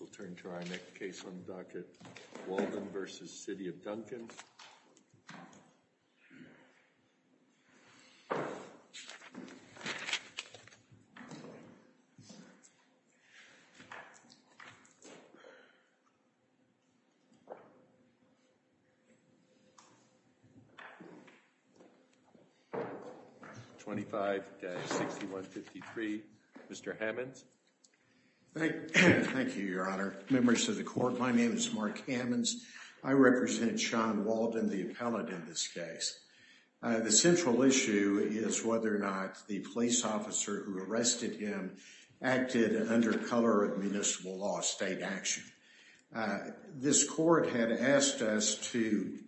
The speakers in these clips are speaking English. We'll turn to our next case on the docket, Walden v. The City of Duncan. 25-6153, Mr. Hammonds. Thank you, Your Honor. Members of the court, my name is Mark Hammonds. I represent Sean Walden, the appellate in this case. The central issue is whether or not the police officer who arrested him acted under color of municipal law, state action. This court had asked us to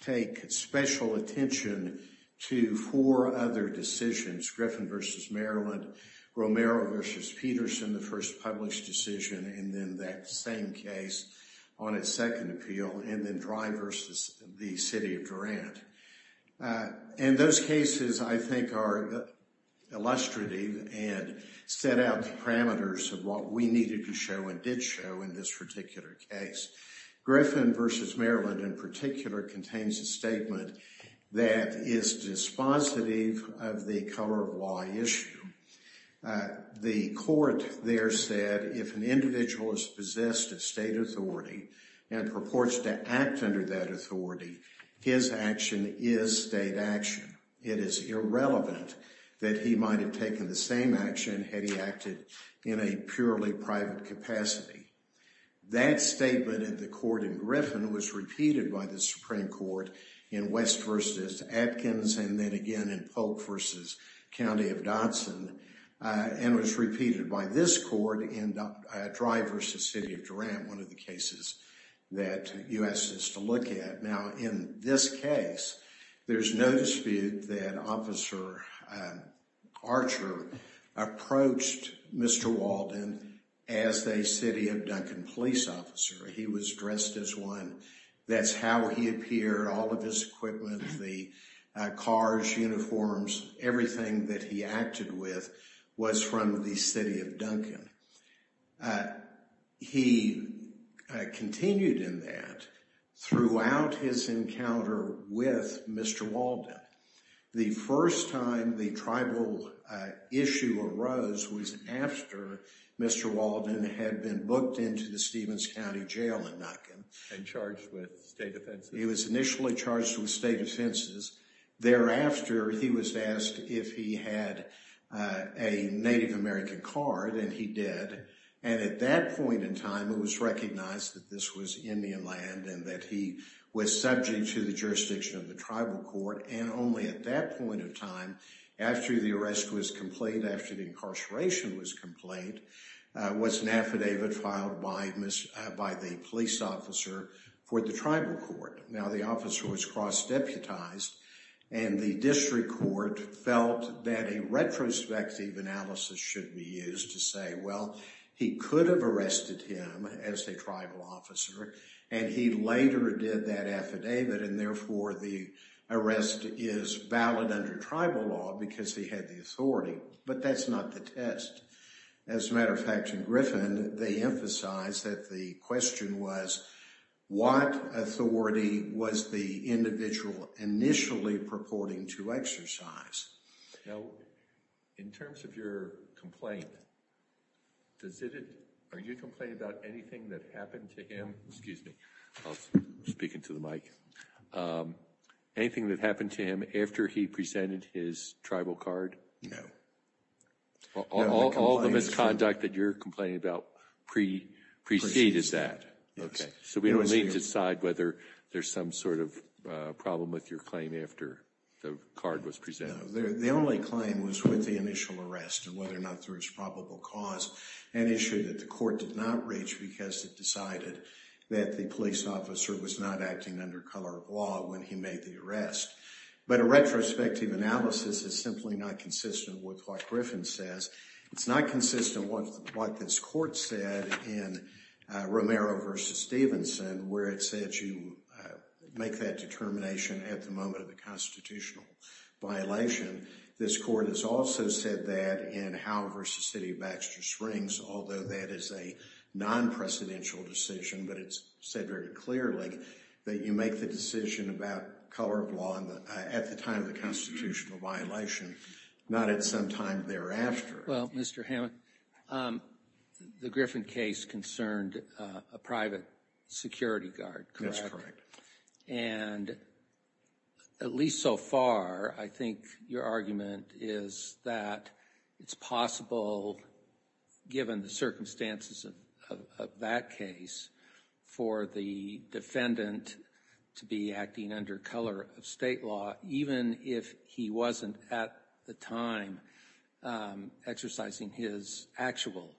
take special attention to four other decisions. It's Griffin v. Maryland, Romero v. Peterson, the first published decision, and then that same case on its second appeal, and then Dry v. The City of Durant. And those cases, I think, are illustrative and set out the parameters of what we needed to show and did show in this particular case. Griffin v. Maryland, in particular, contains a statement that is dispositive of the color of law issue. The court there said if an individual is possessed of state authority and purports to act under that authority, his action is state action. It is irrelevant that he might have taken the same action had he acted in a purely private capacity. That statement at the court in Griffin was repeated by the Supreme Court in West v. Atkins, and then again in Polk v. County of Dodson, and was repeated by this court in Dry v. The City of Durant, one of the cases that you asked us to look at. Now, in this case, there's no dispute that Officer Archer approached Mr. Walden as a City of Duncan police officer. He was dressed as one. That's how he appeared, all of his equipment, the cars, uniforms, everything that he acted with was from the City of Duncan. He continued in that throughout his encounter with Mr. Walden. The first time the tribal issue arose was after Mr. Walden had been booked into the Stevens County Jail in Duncan. And charged with state offenses. He was initially charged with state offenses. Thereafter, he was asked if he had a Native American card, and he did. And at that point in time, it was recognized that this was Indian land and that he was subject to the jurisdiction of the tribal court. And only at that point in time, after the arrest was complete, after the incarceration was complete, was an affidavit filed by the police officer for the tribal court. Now, the officer was cross-deputized, and the district court felt that a retrospective analysis should be used to say, well, he could have arrested him as a tribal officer, and he later did that affidavit, and therefore the arrest is valid under tribal law because he had the authority. But that's not the test. As a matter of fact, in Griffin, they emphasized that the question was, what authority was the individual initially purporting to exercise? Now, in terms of your complaint, are you complaining about anything that happened to him after he presented his tribal card? No. All the misconduct that you're complaining about precedes that. So we don't need to decide whether there's some sort of problem with your claim after the card was presented. No, the only claim was with the initial arrest and whether or not there was probable cause, an issue that the court did not reach because it decided that the police officer was not acting under color of law when he made the arrest. But a retrospective analysis is simply not consistent with what Griffin says. It's not consistent with what this court said in Romero v. Stevenson where it said you make that determination at the moment of the constitutional violation. This court has also said that in Howe v. City of Baxter Springs, although that is a non-presidential decision, but it's said very clearly that you make the decision about color of law at the time of the constitutional violation, not at some time thereafter. Well, Mr. Hammond, the Griffin case concerned a private security guard, correct? And at least so far, I think your argument is that it's possible, given the circumstances of that case, for the defendant to be acting under color of state law even if he wasn't at the time exercising his actual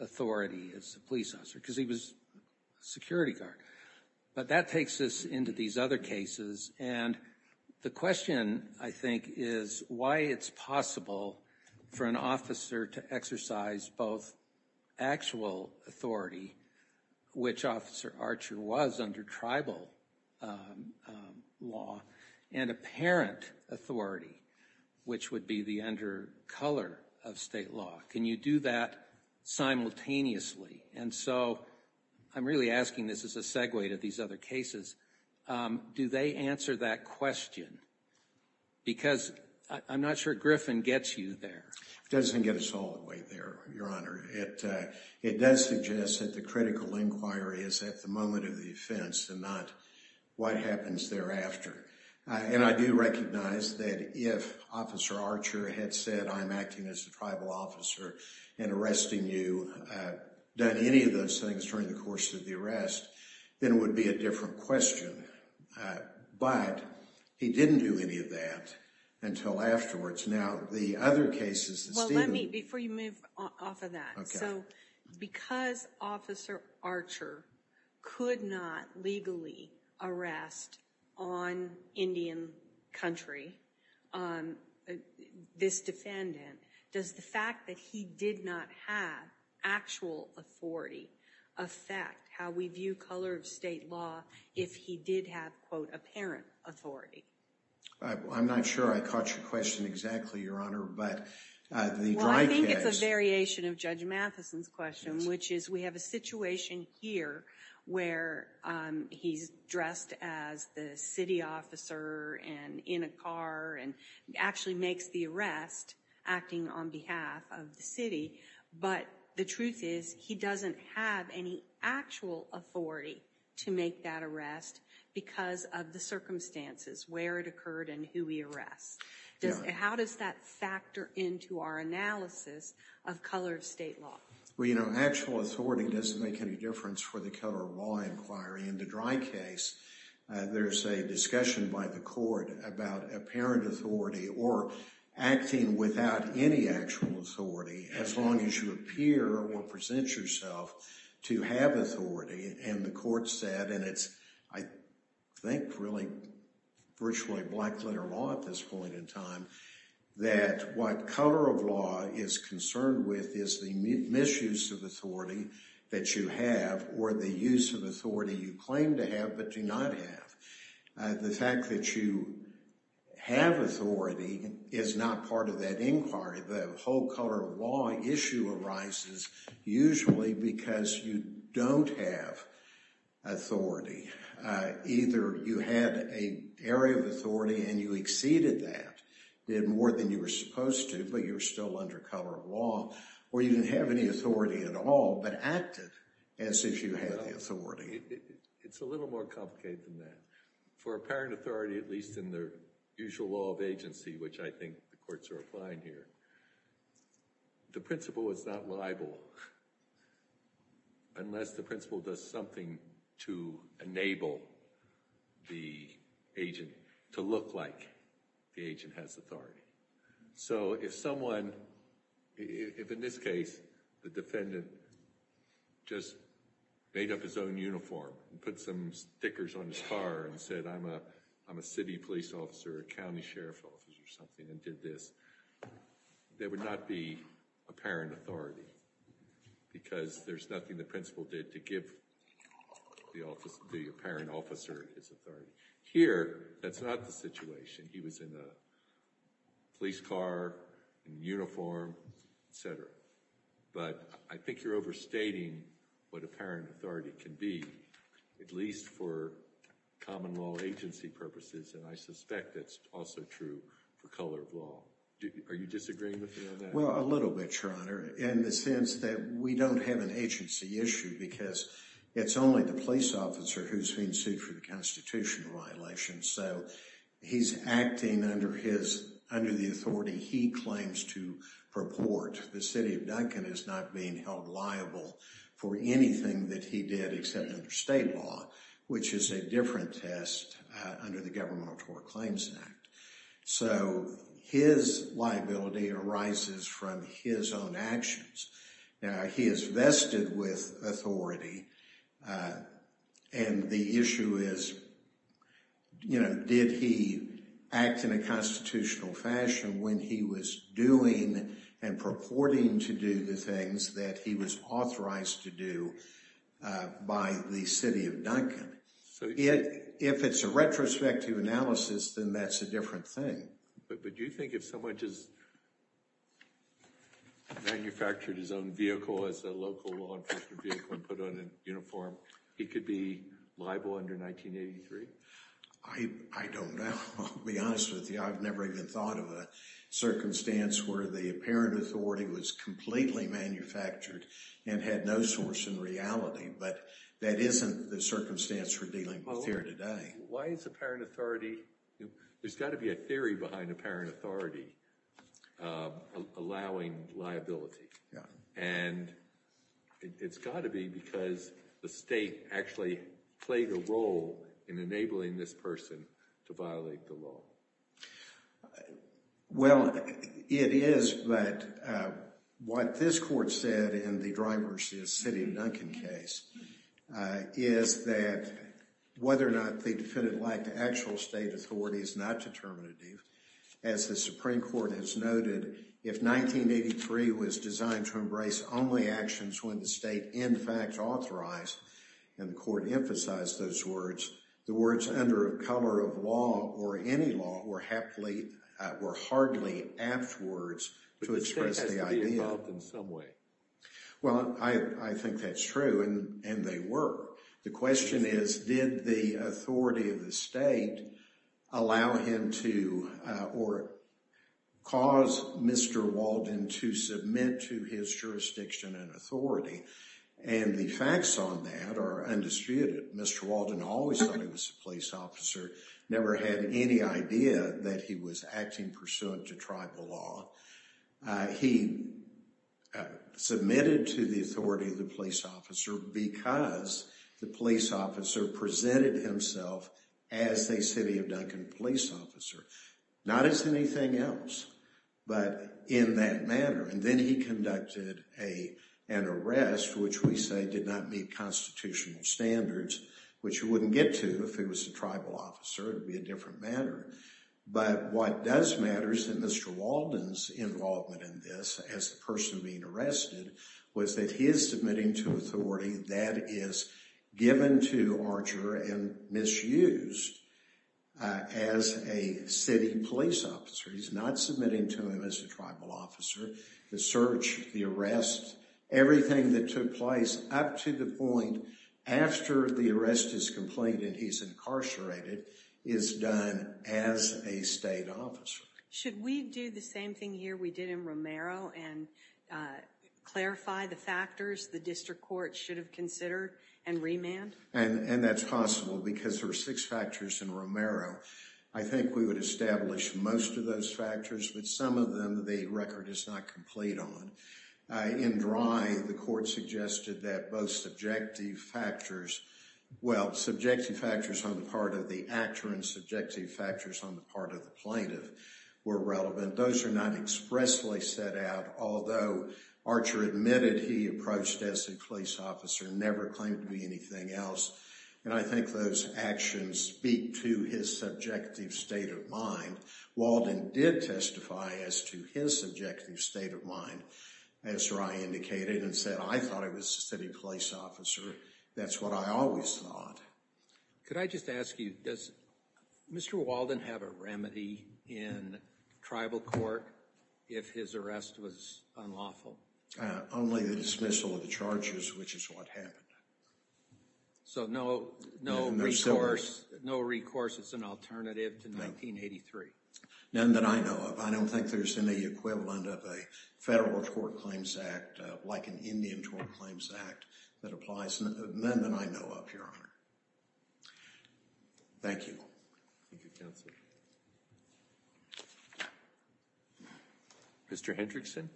authority as a police officer because he was a security guard. But that takes us into these other cases, and the question, I think, is why it's possible for an officer to exercise both actual authority, which Officer Archer was under tribal law, and apparent authority, which would be the under color of state law. Can you do that simultaneously? And so I'm really asking this as a segue to these other cases. Do they answer that question? Because I'm not sure Griffin gets you there. It doesn't get us all the way there, Your Honor. It does suggest that the critical inquiry is at the moment of the offense and not what happens thereafter. And I do recognize that if Officer Archer had said, I'm acting as a tribal officer and arresting you, done any of those things during the course of the arrest, then it would be a different question. But he didn't do any of that until afterwards. Well, let me, before you move off of that, so because Officer Archer could not legally arrest on Indian country this defendant, does the fact that he did not have actual authority affect how we view color of state law if he did have, quote, apparent authority? I'm not sure I caught your question exactly, Your Honor, but the dry case. Well, I think it's a variation of Judge Matheson's question, which is we have a situation here where he's dressed as the city officer and in a car and actually makes the arrest acting on behalf of the city. But the truth is he doesn't have any actual authority to make that arrest because of the circumstances where it occurred and who he arrests. How does that factor into our analysis of color of state law? Well, you know, actual authority doesn't make any difference for the color of law inquiry. In the dry case, there's a discussion by the court about apparent authority or acting without any actual authority as long as you appear or present yourself to have authority. And the court said, and it's, I think, really virtually black-letter law at this point in time, that what color of law is concerned with is the misuse of authority that you have or the use of authority you claim to have but do not have. The fact that you have authority is not part of that inquiry. The whole color of law issue arises usually because you don't have authority. Either you had an area of authority and you exceeded that, did more than you were supposed to, but you were still under color of law, or you didn't have any authority at all but acted as if you had the authority. It's a little more complicated than that. For apparent authority, at least in the usual law of agency, which I think the courts are applying here, the principle is not liable unless the principle does something to enable the agent to look like the agent has authority. So if someone, if in this case, the defendant just made up his own uniform and put some stickers on his car and said, I'm a city police officer, a county sheriff officer or something, and did this, there would not be apparent authority because there's nothing the principle did to give the apparent officer his authority. Here, that's not the situation. He was in a police car, in uniform, et cetera. But I think you're overstating what apparent authority can be, at least for common law agency purposes, and I suspect that's also true for color of law. Are you disagreeing with me on that? Well, a little bit, Your Honor, in the sense that we don't have an agency issue because it's only the police officer who's being sued for the constitutional violations. So he's acting under the authority he claims to purport. The city of Duncan is not being held liable for anything that he did except under state law, which is a different test under the Governmental Tort Claims Act. So his liability arises from his own actions. Now, he is vested with authority, and the issue is, you know, did he act in a constitutional fashion when he was doing and purporting to do the things that he was authorized to do by the city of Duncan? If it's a retrospective analysis, then that's a different thing. But do you think if someone just manufactured his own vehicle as a local law enforcement vehicle and put on a uniform, he could be liable under 1983? I don't know. I'll be honest with you. I've never even thought of a circumstance where the apparent authority was completely manufactured and had no source in reality. But that isn't the circumstance we're dealing with here today. Why is apparent authority – there's got to be a theory behind apparent authority allowing liability. And it's got to be because the state actually played a role in enabling this person to violate the law. Well, it is, but what this court said in the Dry Mercy of City of Duncan case is that whether or not the defendant lacked actual state authority is not determinative. As the Supreme Court has noted, if 1983 was designed to embrace only actions when the state in fact authorized – and the court emphasized those words – the words, under the cover of law or any law, were hardly apt words to express the idea. But the state has to be involved in some way. Well, I think that's true, and they were. The question is, did the authority of the state allow him to or cause Mr. Walden to submit to his jurisdiction and authority? And the facts on that are undisputed. Mr. Walden always thought he was a police officer, never had any idea that he was acting pursuant to tribal law. He submitted to the authority of the police officer because the police officer presented himself as a City of Duncan police officer. Not as anything else, but in that manner. And then he conducted an arrest, which we say did not meet constitutional standards, which you wouldn't get to if he was a tribal officer. It would be a different matter. But what does matter is that Mr. Walden's involvement in this, as the person being arrested, was that he is submitting to authority that is given to Archer and misused as a city police officer. He's not submitting to him as a tribal officer. The search, the arrest, everything that took place up to the point after the arrest is completed, he's incarcerated, is done as a state officer. Should we do the same thing here we did in Romero and clarify the factors the district court should have considered and remand? And that's possible because there are six factors in Romero. I think we would establish most of those factors, but some of them the record is not complete on. In Dry, the court suggested that both subjective factors, well, subjective factors on the part of the actor and subjective factors on the part of the plaintiff were relevant. Those are not expressly set out, although Archer admitted he approached as a police officer, never claimed to be anything else. And I think those actions speak to his subjective state of mind. Walden did testify as to his subjective state of mind, as Dry indicated, and said, I thought he was a city police officer. That's what I always thought. Could I just ask you, does Mr. Walden have a remedy in tribal court if his arrest was unlawful? Only the dismissal of the charges, which is what happened. So no recourse, no recourse as an alternative to 1983? None that I know of. I don't think there's any equivalent of a federal tort claims act like an Indian tort claims act that applies. None that I know of, Your Honor. Thank you. Thank you, Counsel. Mr. Hendrickson?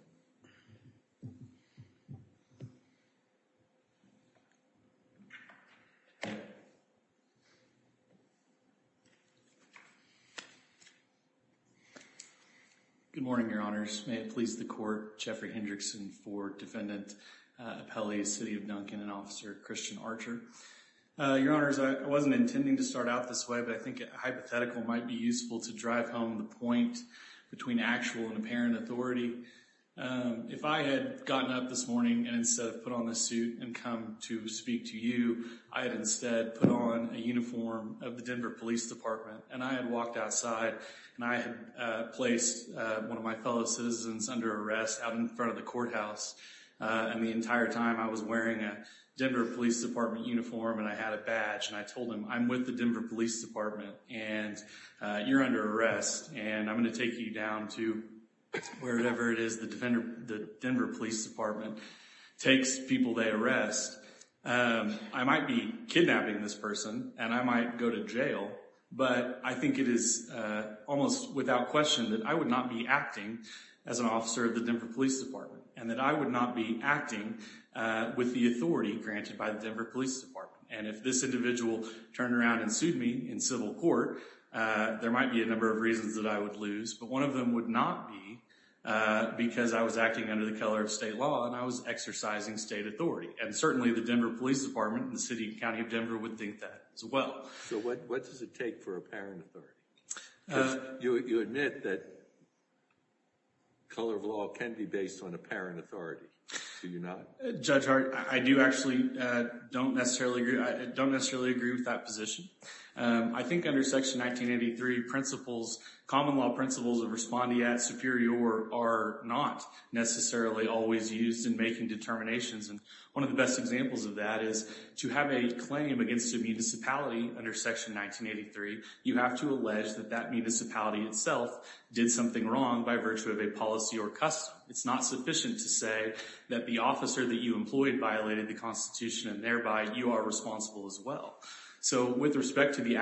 Good morning, Your Honors. May it please the court, Jeffrey Hendrickson for Defendant Appellee, City of Duncan, and Officer Christian Archer. Your Honors, I wasn't intending to start out this way, but I think a hypothetical might be useful to drive home the point between actual and apparent authority. If I had gotten up this morning and instead of put on this suit and come to speak to you, I had instead put on a uniform of the Denver Police Department, and I had walked outside, and I had placed one of my fellow citizens under arrest out in front of the courthouse, and the entire time I was wearing a Denver Police Department uniform, and I had a badge, and I told him, I'm with the Denver Police Department, and you're under arrest, and I'm going to take you down to wherever it is the Denver Police Department takes people they arrest. I might be kidnapping this person, and I might go to jail, but I think it is almost without question that I would not be acting as an officer of the Denver Police Department, and that I would not be acting with the authority granted by the Denver Police Department. And if this individual turned around and sued me in civil court, there might be a number of reasons that I would lose, but one of them would not be because I was acting under the color of state law, and I was exercising state authority, and certainly the Denver Police Department and the City and County of Denver would think that as well. So what does it take for apparent authority? You admit that color of law can be based on apparent authority, do you not? Judge Hart, I do actually don't necessarily agree with that position. I think under Section 1983, principles, common law principles of respondeat superior are not necessarily always used in making determinations, and one of the best examples of that is to have a claim against a municipality under Section 1983, you have to allege that that municipality itself did something wrong by virtue of a policy or custom. It's not sufficient to say that the officer that you employed violated the Constitution, and thereby you are responsible as well. So with respect to the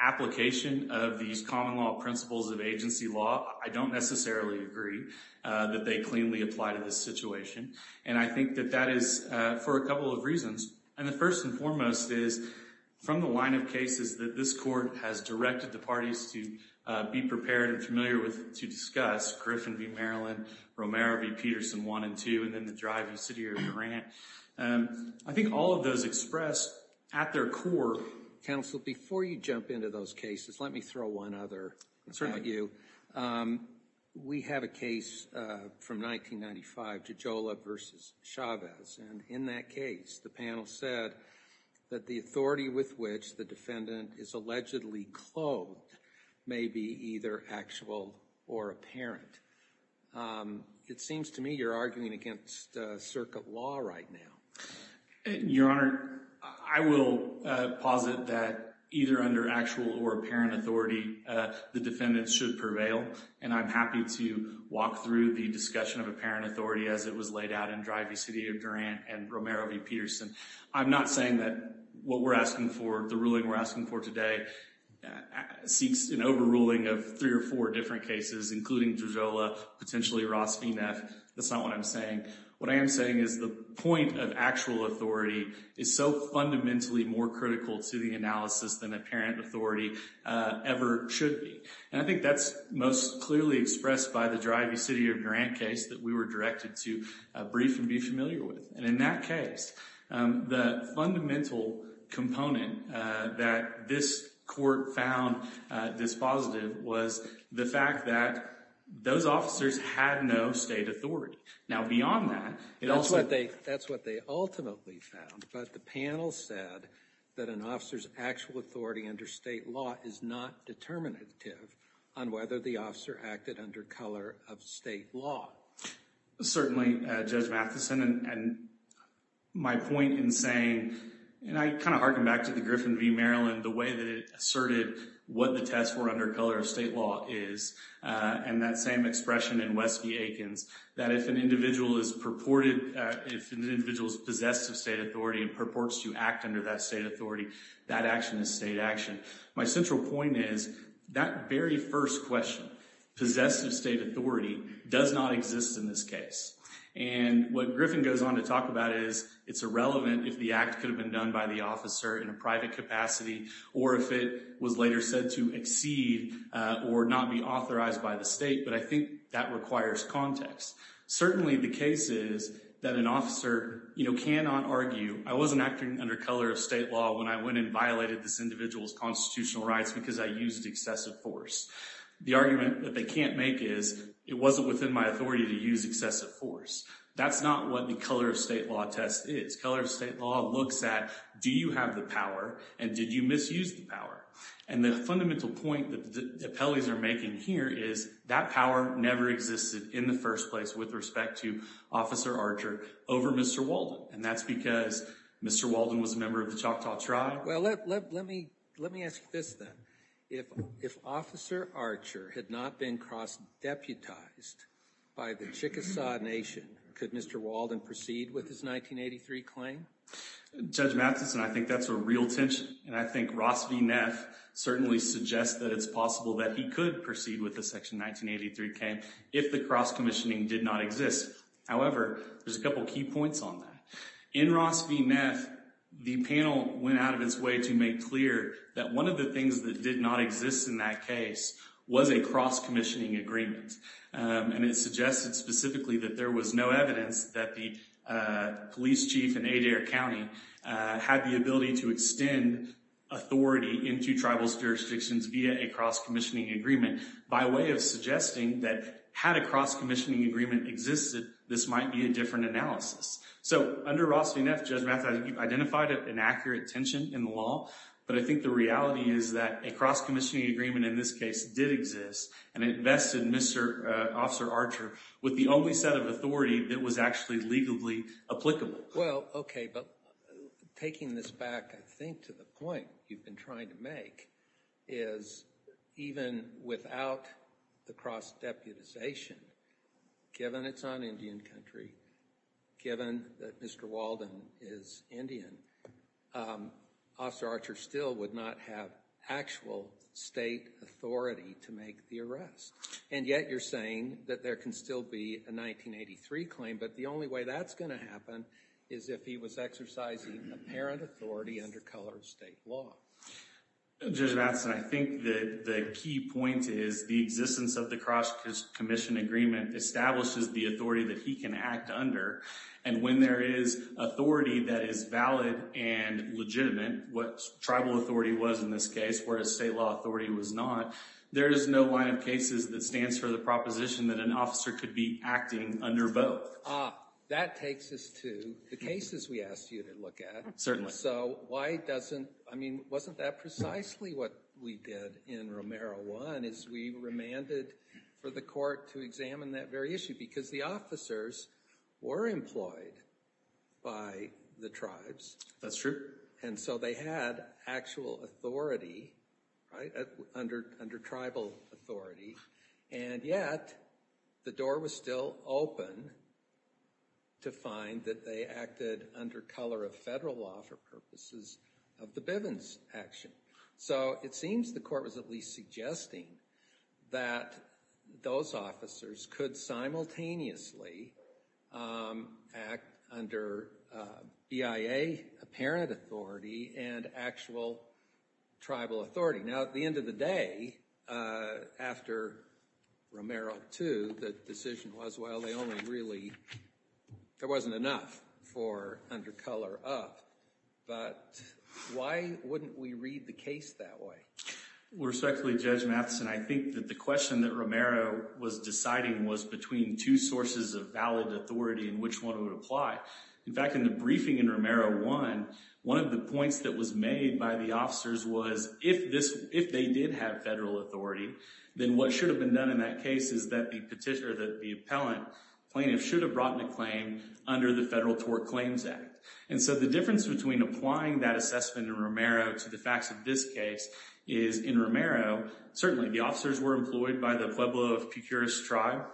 application of these common law principles of agency law, I don't necessarily agree that they cleanly apply to this situation, and I think that that is for a couple of reasons, and the first and foremost is from the line of cases that this court has directed the parties to be prepared and familiar with to discuss, Griffin v. Maryland, Romero v. Peterson 1 and 2, and then the drive-thru city of Durant. I think all of those express at their core. Counsel, before you jump into those cases, let me throw one other at you. We have a case from 1995, Tijola v. Chavez, and in that case the panel said that the authority with which the defendant is allegedly clothed may be either actual or apparent. It seems to me you're arguing against circuit law right now. Your Honor, I will posit that either under actual or apparent authority the defendant should prevail, and I'm happy to walk through the discussion of apparent authority as it was laid out in Drive-Thru City of Durant and Romero v. Peterson. I'm not saying that what we're asking for, the ruling we're asking for today, seeks an overruling of three or four different cases, including Tijola, potentially Ross v. Neff. That's not what I'm saying. What I am saying is the point of actual authority is so fundamentally more critical to the analysis than apparent authority ever should be, and I think that's most clearly expressed by the Drive-Thru City of Durant case that we were directed to brief and be familiar with, and in that case the fundamental component that this court found dispositive was the fact that those officers had no state authority. Now, beyond that, it also— That's what they ultimately found, but the panel said that an officer's actual authority under state law is not determinative on whether the officer acted under color of state law. Certainly, Judge Matheson, and my point in saying— and I kind of harken back to the Griffin v. Maryland, the way that it asserted what the test for under color of state law is, and that same expression in West v. Aikens, that if an individual is purported— if an individual is possessed of state authority and purports to act under that state authority, that action is state action. My central point is that very first question, possessive state authority, does not exist in this case. And what Griffin goes on to talk about is it's irrelevant if the act could have been done by the officer in a private capacity or if it was later said to exceed or not be authorized by the state, but I think that requires context. Certainly, the case is that an officer cannot argue, I wasn't acting under color of state law when I went and violated this individual's constitutional rights because I used excessive force. The argument that they can't make is, it wasn't within my authority to use excessive force. That's not what the color of state law test is. Color of state law looks at, do you have the power, and did you misuse the power? And the fundamental point that the appellees are making here is that power never existed in the first place with respect to Officer Archer over Mr. Walden, and that's because Mr. Walden was a member of the Choctaw tribe. Well, let me ask you this then. If Officer Archer had not been cross-deputized by the Chickasaw Nation, could Mr. Walden proceed with his 1983 claim? Judge Matheson, I think that's a real tension, and I think Ross V. Neff certainly suggests that it's possible that he could proceed with the Section 1983 claim if the cross-commissioning did not exist. However, there's a couple key points on that. In Ross V. Neff, the panel went out of its way to make clear that one of the things that did not exist in that case was a cross-commissioning agreement, and it suggested specifically that there was no evidence that the police chief in Adair County had the ability to extend authority into tribal jurisdictions via a cross-commissioning agreement by way of suggesting that had a cross-commissioning agreement existed, this might be a different analysis. So under Ross V. Neff, Judge Matheson, you've identified an accurate tension in the law, but I think the reality is that a cross-commissioning agreement in this case did exist, and it vested Officer Archer with the only set of authority that was actually legally applicable. Well, okay, but taking this back, I think, to the point you've been trying to make is even without the cross-deputization, given it's on Indian country, given that Mr. Walden is Indian, Officer Archer still would not have actual state authority to make the arrest. And yet you're saying that there can still be a 1983 claim, but the only way that's going to happen is if he was exercising apparent authority under colored state law. Judge Matheson, I think the key point is the existence of the cross-commissioning agreement establishes the authority that he can act under, and when there is authority that is valid and legitimate, what tribal authority was in this case whereas state law authority was not, there is no line of cases that stands for the proposition that an officer could be acting under both. Ah, that takes us to the cases we asked you to look at. So why doesn't, I mean, wasn't that precisely what we did in Romero I as we remanded for the court to examine that very issue? Because the officers were employed by the tribes. That's true. And so they had actual authority, right, under tribal authority, and yet the door was still open to find that they acted under color of federal law for purposes of the Bivens action. So it seems the court was at least suggesting that those officers could simultaneously act under BIA apparent authority and actual tribal authority. Now, at the end of the day, after Romero II, the decision was, well, they only really, there wasn't enough for under color of. But why wouldn't we read the case that way? Respectfully, Judge Matheson, I think that the question that Romero was deciding was between two sources of valid authority and which one would apply. In fact, in the briefing in Romero I, one of the points that was made by the officers was if they did have federal authority, then what should have been done in that case is that the appellant plaintiff should have brought the claim under the Federal Tort Claims Act. And so the difference between applying that assessment in Romero to the facts of this case is in Romero, certainly the officers were employed by the Pueblo of Pucuris tribe,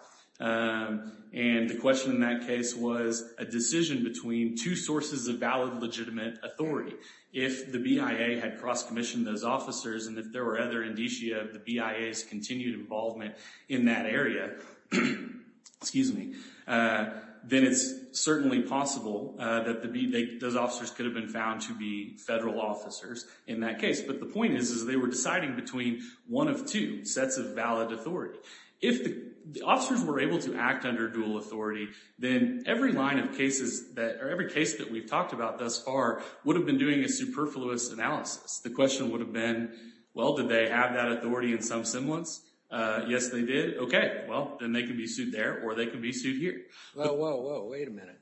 and the question in that case was a decision between two sources of valid, legitimate authority. If the BIA had cross-commissioned those officers and if there were other indicia of the BIA's continued involvement in that area, then it's certainly possible that those officers could have been found to be federal officers in that case. But the point is they were deciding between one of two sets of valid authority. If the officers were able to act under dual authority, then every line of cases, or every case that we've talked about thus far, would have been doing a superfluous analysis. The question would have been, well, did they have that authority in some semblance? Yes, they did. Okay, well, then they can be sued there or they can be sued here. Whoa, whoa, whoa, wait a minute.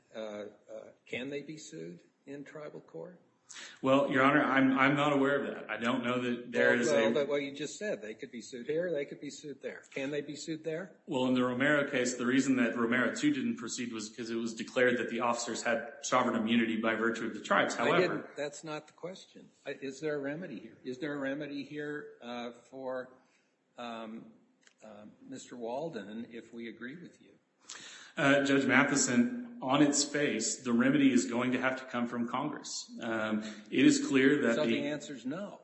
Can they be sued in tribal court? Well, Your Honor, I'm not aware of that. I don't know that there is a— Well, you just said they could be sued here or they could be sued there. Can they be sued there? Well, in the Romero case, the reason that Romero 2 didn't proceed was because it was declared that the officers had sovereign immunity by virtue of the tribes. I didn't—that's not the question. Is there a remedy here? Is there a remedy here for Mr. Walden if we agree with you? Judge Matheson, on its face, the remedy is going to have to come from Congress. It is clear that the— So the answer is no?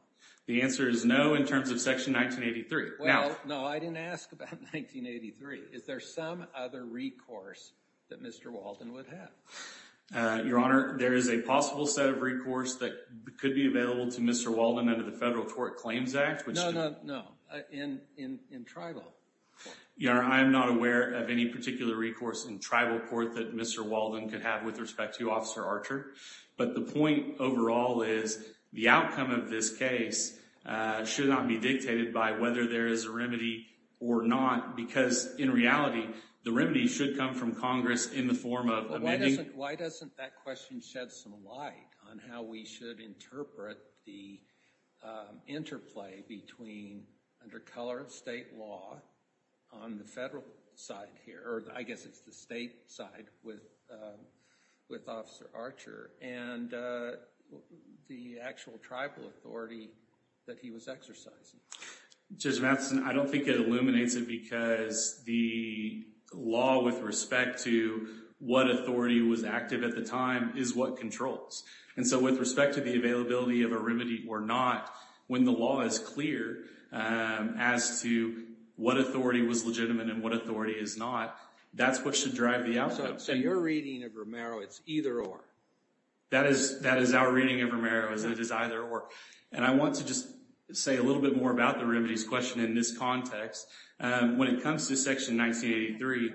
The answer is no in terms of Section 1983. Well, no, I didn't ask about 1983. Is there some other recourse that Mr. Walden would have? Your Honor, there is a possible set of recourse that could be available to Mr. Walden under the Federal Tort Claims Act, which— No, no, no, in tribal court. Your Honor, I am not aware of any particular recourse in tribal court that Mr. Walden could have with respect to you, Officer Archer. But the point overall is the outcome of this case should not be dictated by whether there is a remedy or not because in reality, the remedy should come from Congress in the form of amending— Well, why doesn't that question shed some light on how we should interpret the interplay between, under color of state law, on the Federal side here, or I guess it's the state side, with Officer Archer and the actual tribal authority that he was exercising? Judge Matheson, I don't think it illuminates it because the law with respect to what authority was active at the time is what controls. And so with respect to the availability of a remedy or not, when the law is clear as to what authority was legitimate and what authority is not, that's what should drive the outcome. So your reading of Romero, it's either or? That is our reading of Romero, is that it's either or. And I want to just say a little bit more about the remedies question in this context. When it comes to Section 1983,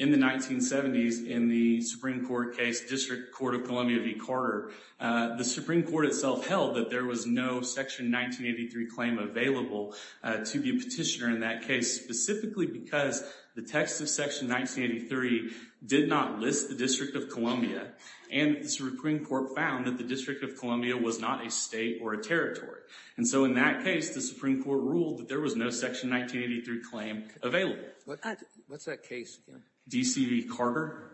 in the 1970s, in the Supreme Court case, District Court of Columbia v. Carter, the Supreme Court itself held that there was no Section 1983 claim available to the petitioner in that case, specifically because the text of Section 1983 did not list the District of Columbia, and the Supreme Court found that the District of Columbia was not a state or a territory. And so in that case, the Supreme Court ruled that there was no Section 1983 claim available. What's that case again? D.C. v. Carter.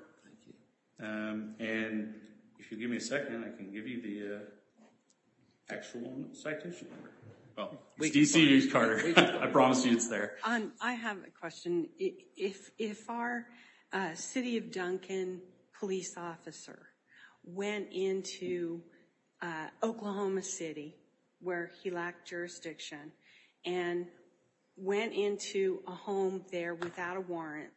And if you'll give me a second, I can give you the actual citation. It's D.C. v. Carter. I promise you it's there. I have a question. If our City of Duncan police officer went into Oklahoma City, where he lacked jurisdiction, and went into a home there without a warrant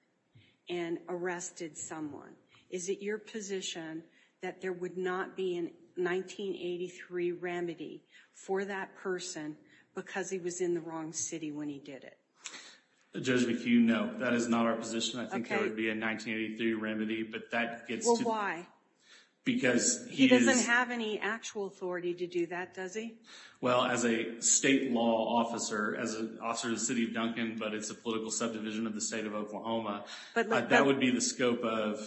and arrested someone, is it your position that there would not be a 1983 remedy for that person because he was in the wrong city when he did it? Judge McHugh, no. That is not our position. I think there would be a 1983 remedy, but that gets to the point. Because he is— He doesn't have any actual authority to do that, does he? Well, as a state law officer, as an officer of the City of Duncan, but it's a political subdivision of the State of Oklahoma, that would be the scope of,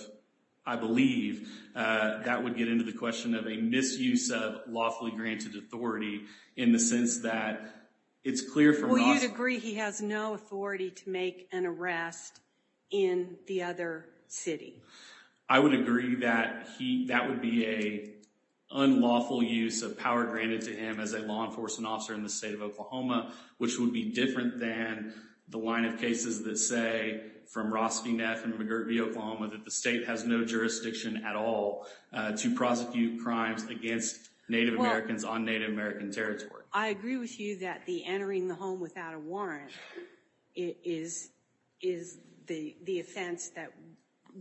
I believe, that would get into the question of a misuse of lawfully granted authority in the sense that it's clear from law— Well, you'd agree he has no authority to make an arrest in the other city? I would agree that that would be an unlawful use of power granted to him as a law enforcement officer in the State of Oklahoma, which would be different than the line of cases that say, from Ross V. Neff and McGirt v. Oklahoma, that the state has no jurisdiction at all to prosecute crimes against Native Americans on Native American territory. Well, I agree with you that the entering the home without a warrant is the offense that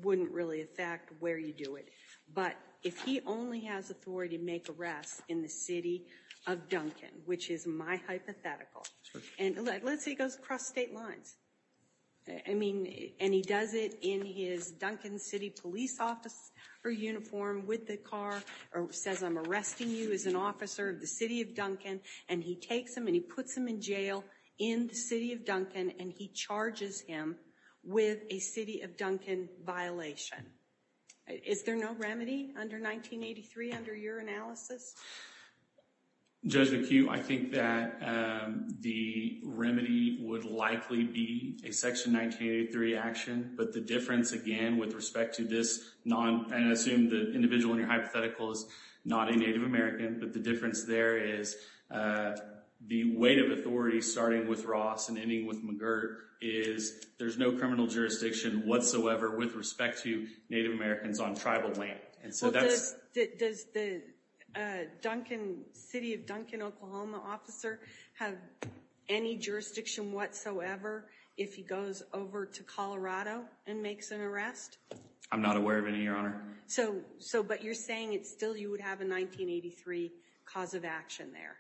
wouldn't really affect where you do it. But if he only has authority to make arrests in the City of Duncan, which is my hypothetical— And let's say he goes across state lines. I mean, and he does it in his Duncan City police officer uniform with a car or says, I'm arresting you as an officer of the City of Duncan, and he takes him and he puts him in jail in the City of Duncan, and he charges him with a City of Duncan violation. Is there no remedy under 1983, under your analysis? Judge McHugh, I think that the remedy would likely be a Section 1983 action, but the difference, again, with respect to this— And I assume the individual in your hypothetical is not a Native American, but the difference there is the weight of authority starting with Ross and ending with McGirt is there's no criminal jurisdiction whatsoever with respect to Native Americans on tribal land. And so that's— Does the City of Duncan, Oklahoma, officer have any jurisdiction whatsoever if he goes over to Colorado and makes an arrest? I'm not aware of any, Your Honor. So, but you're saying it's still—you would have a 1983 cause of action there.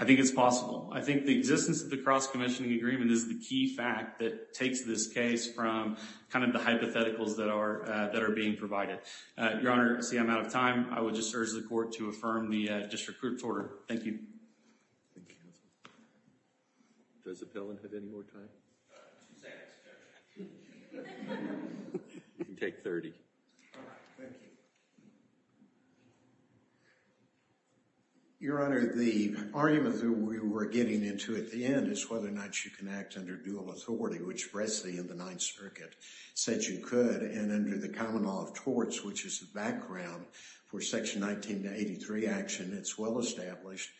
I think it's possible. I think the existence of the cross-commissioning agreement is the key fact that takes this case from kind of the hypotheticals that are being provided. Your Honor, see, I'm out of time. I would just urge the Court to affirm the district court's order. Thank you. Thank you, counsel. Does Appellant have any more time? Two seconds, Judge. You can take 30. All right. Thank you. Your Honor, the argument that we were getting into at the end is whether or not you can act under dual authority, which Bresley in the Ninth Circuit said you could. And under the common law of torts, which is the background for Section 19 to 83 action, it's well established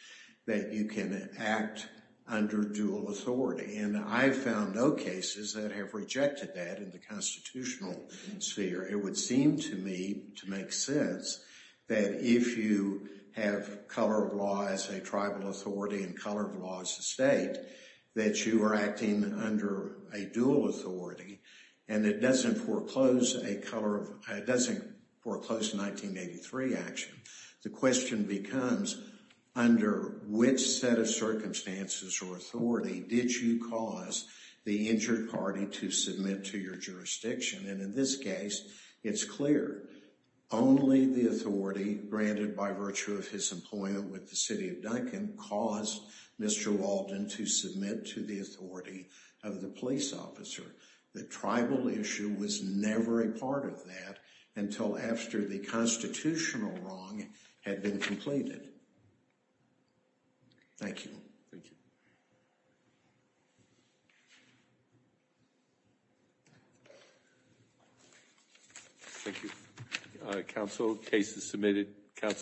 that you can act under dual authority. And I've found no cases that have rejected that in the constitutional sphere. It would seem to me to make sense that if you have color of law as a tribal authority and color of law as a state, that you are acting under a dual authority and it doesn't foreclose a color—it doesn't foreclose a 1983 action. The question becomes, under which set of circumstances or authority did you cause the injured party to submit to your jurisdiction? And in this case, it's clear. Only the authority granted by virtue of his employment with the city of Duncan caused Mr. Walden to submit to the authority of the police officer. The tribal issue was never a part of that until after the constitutional wrong had been completed. Thank you. Thank you. Thank you. Council, case is submitted.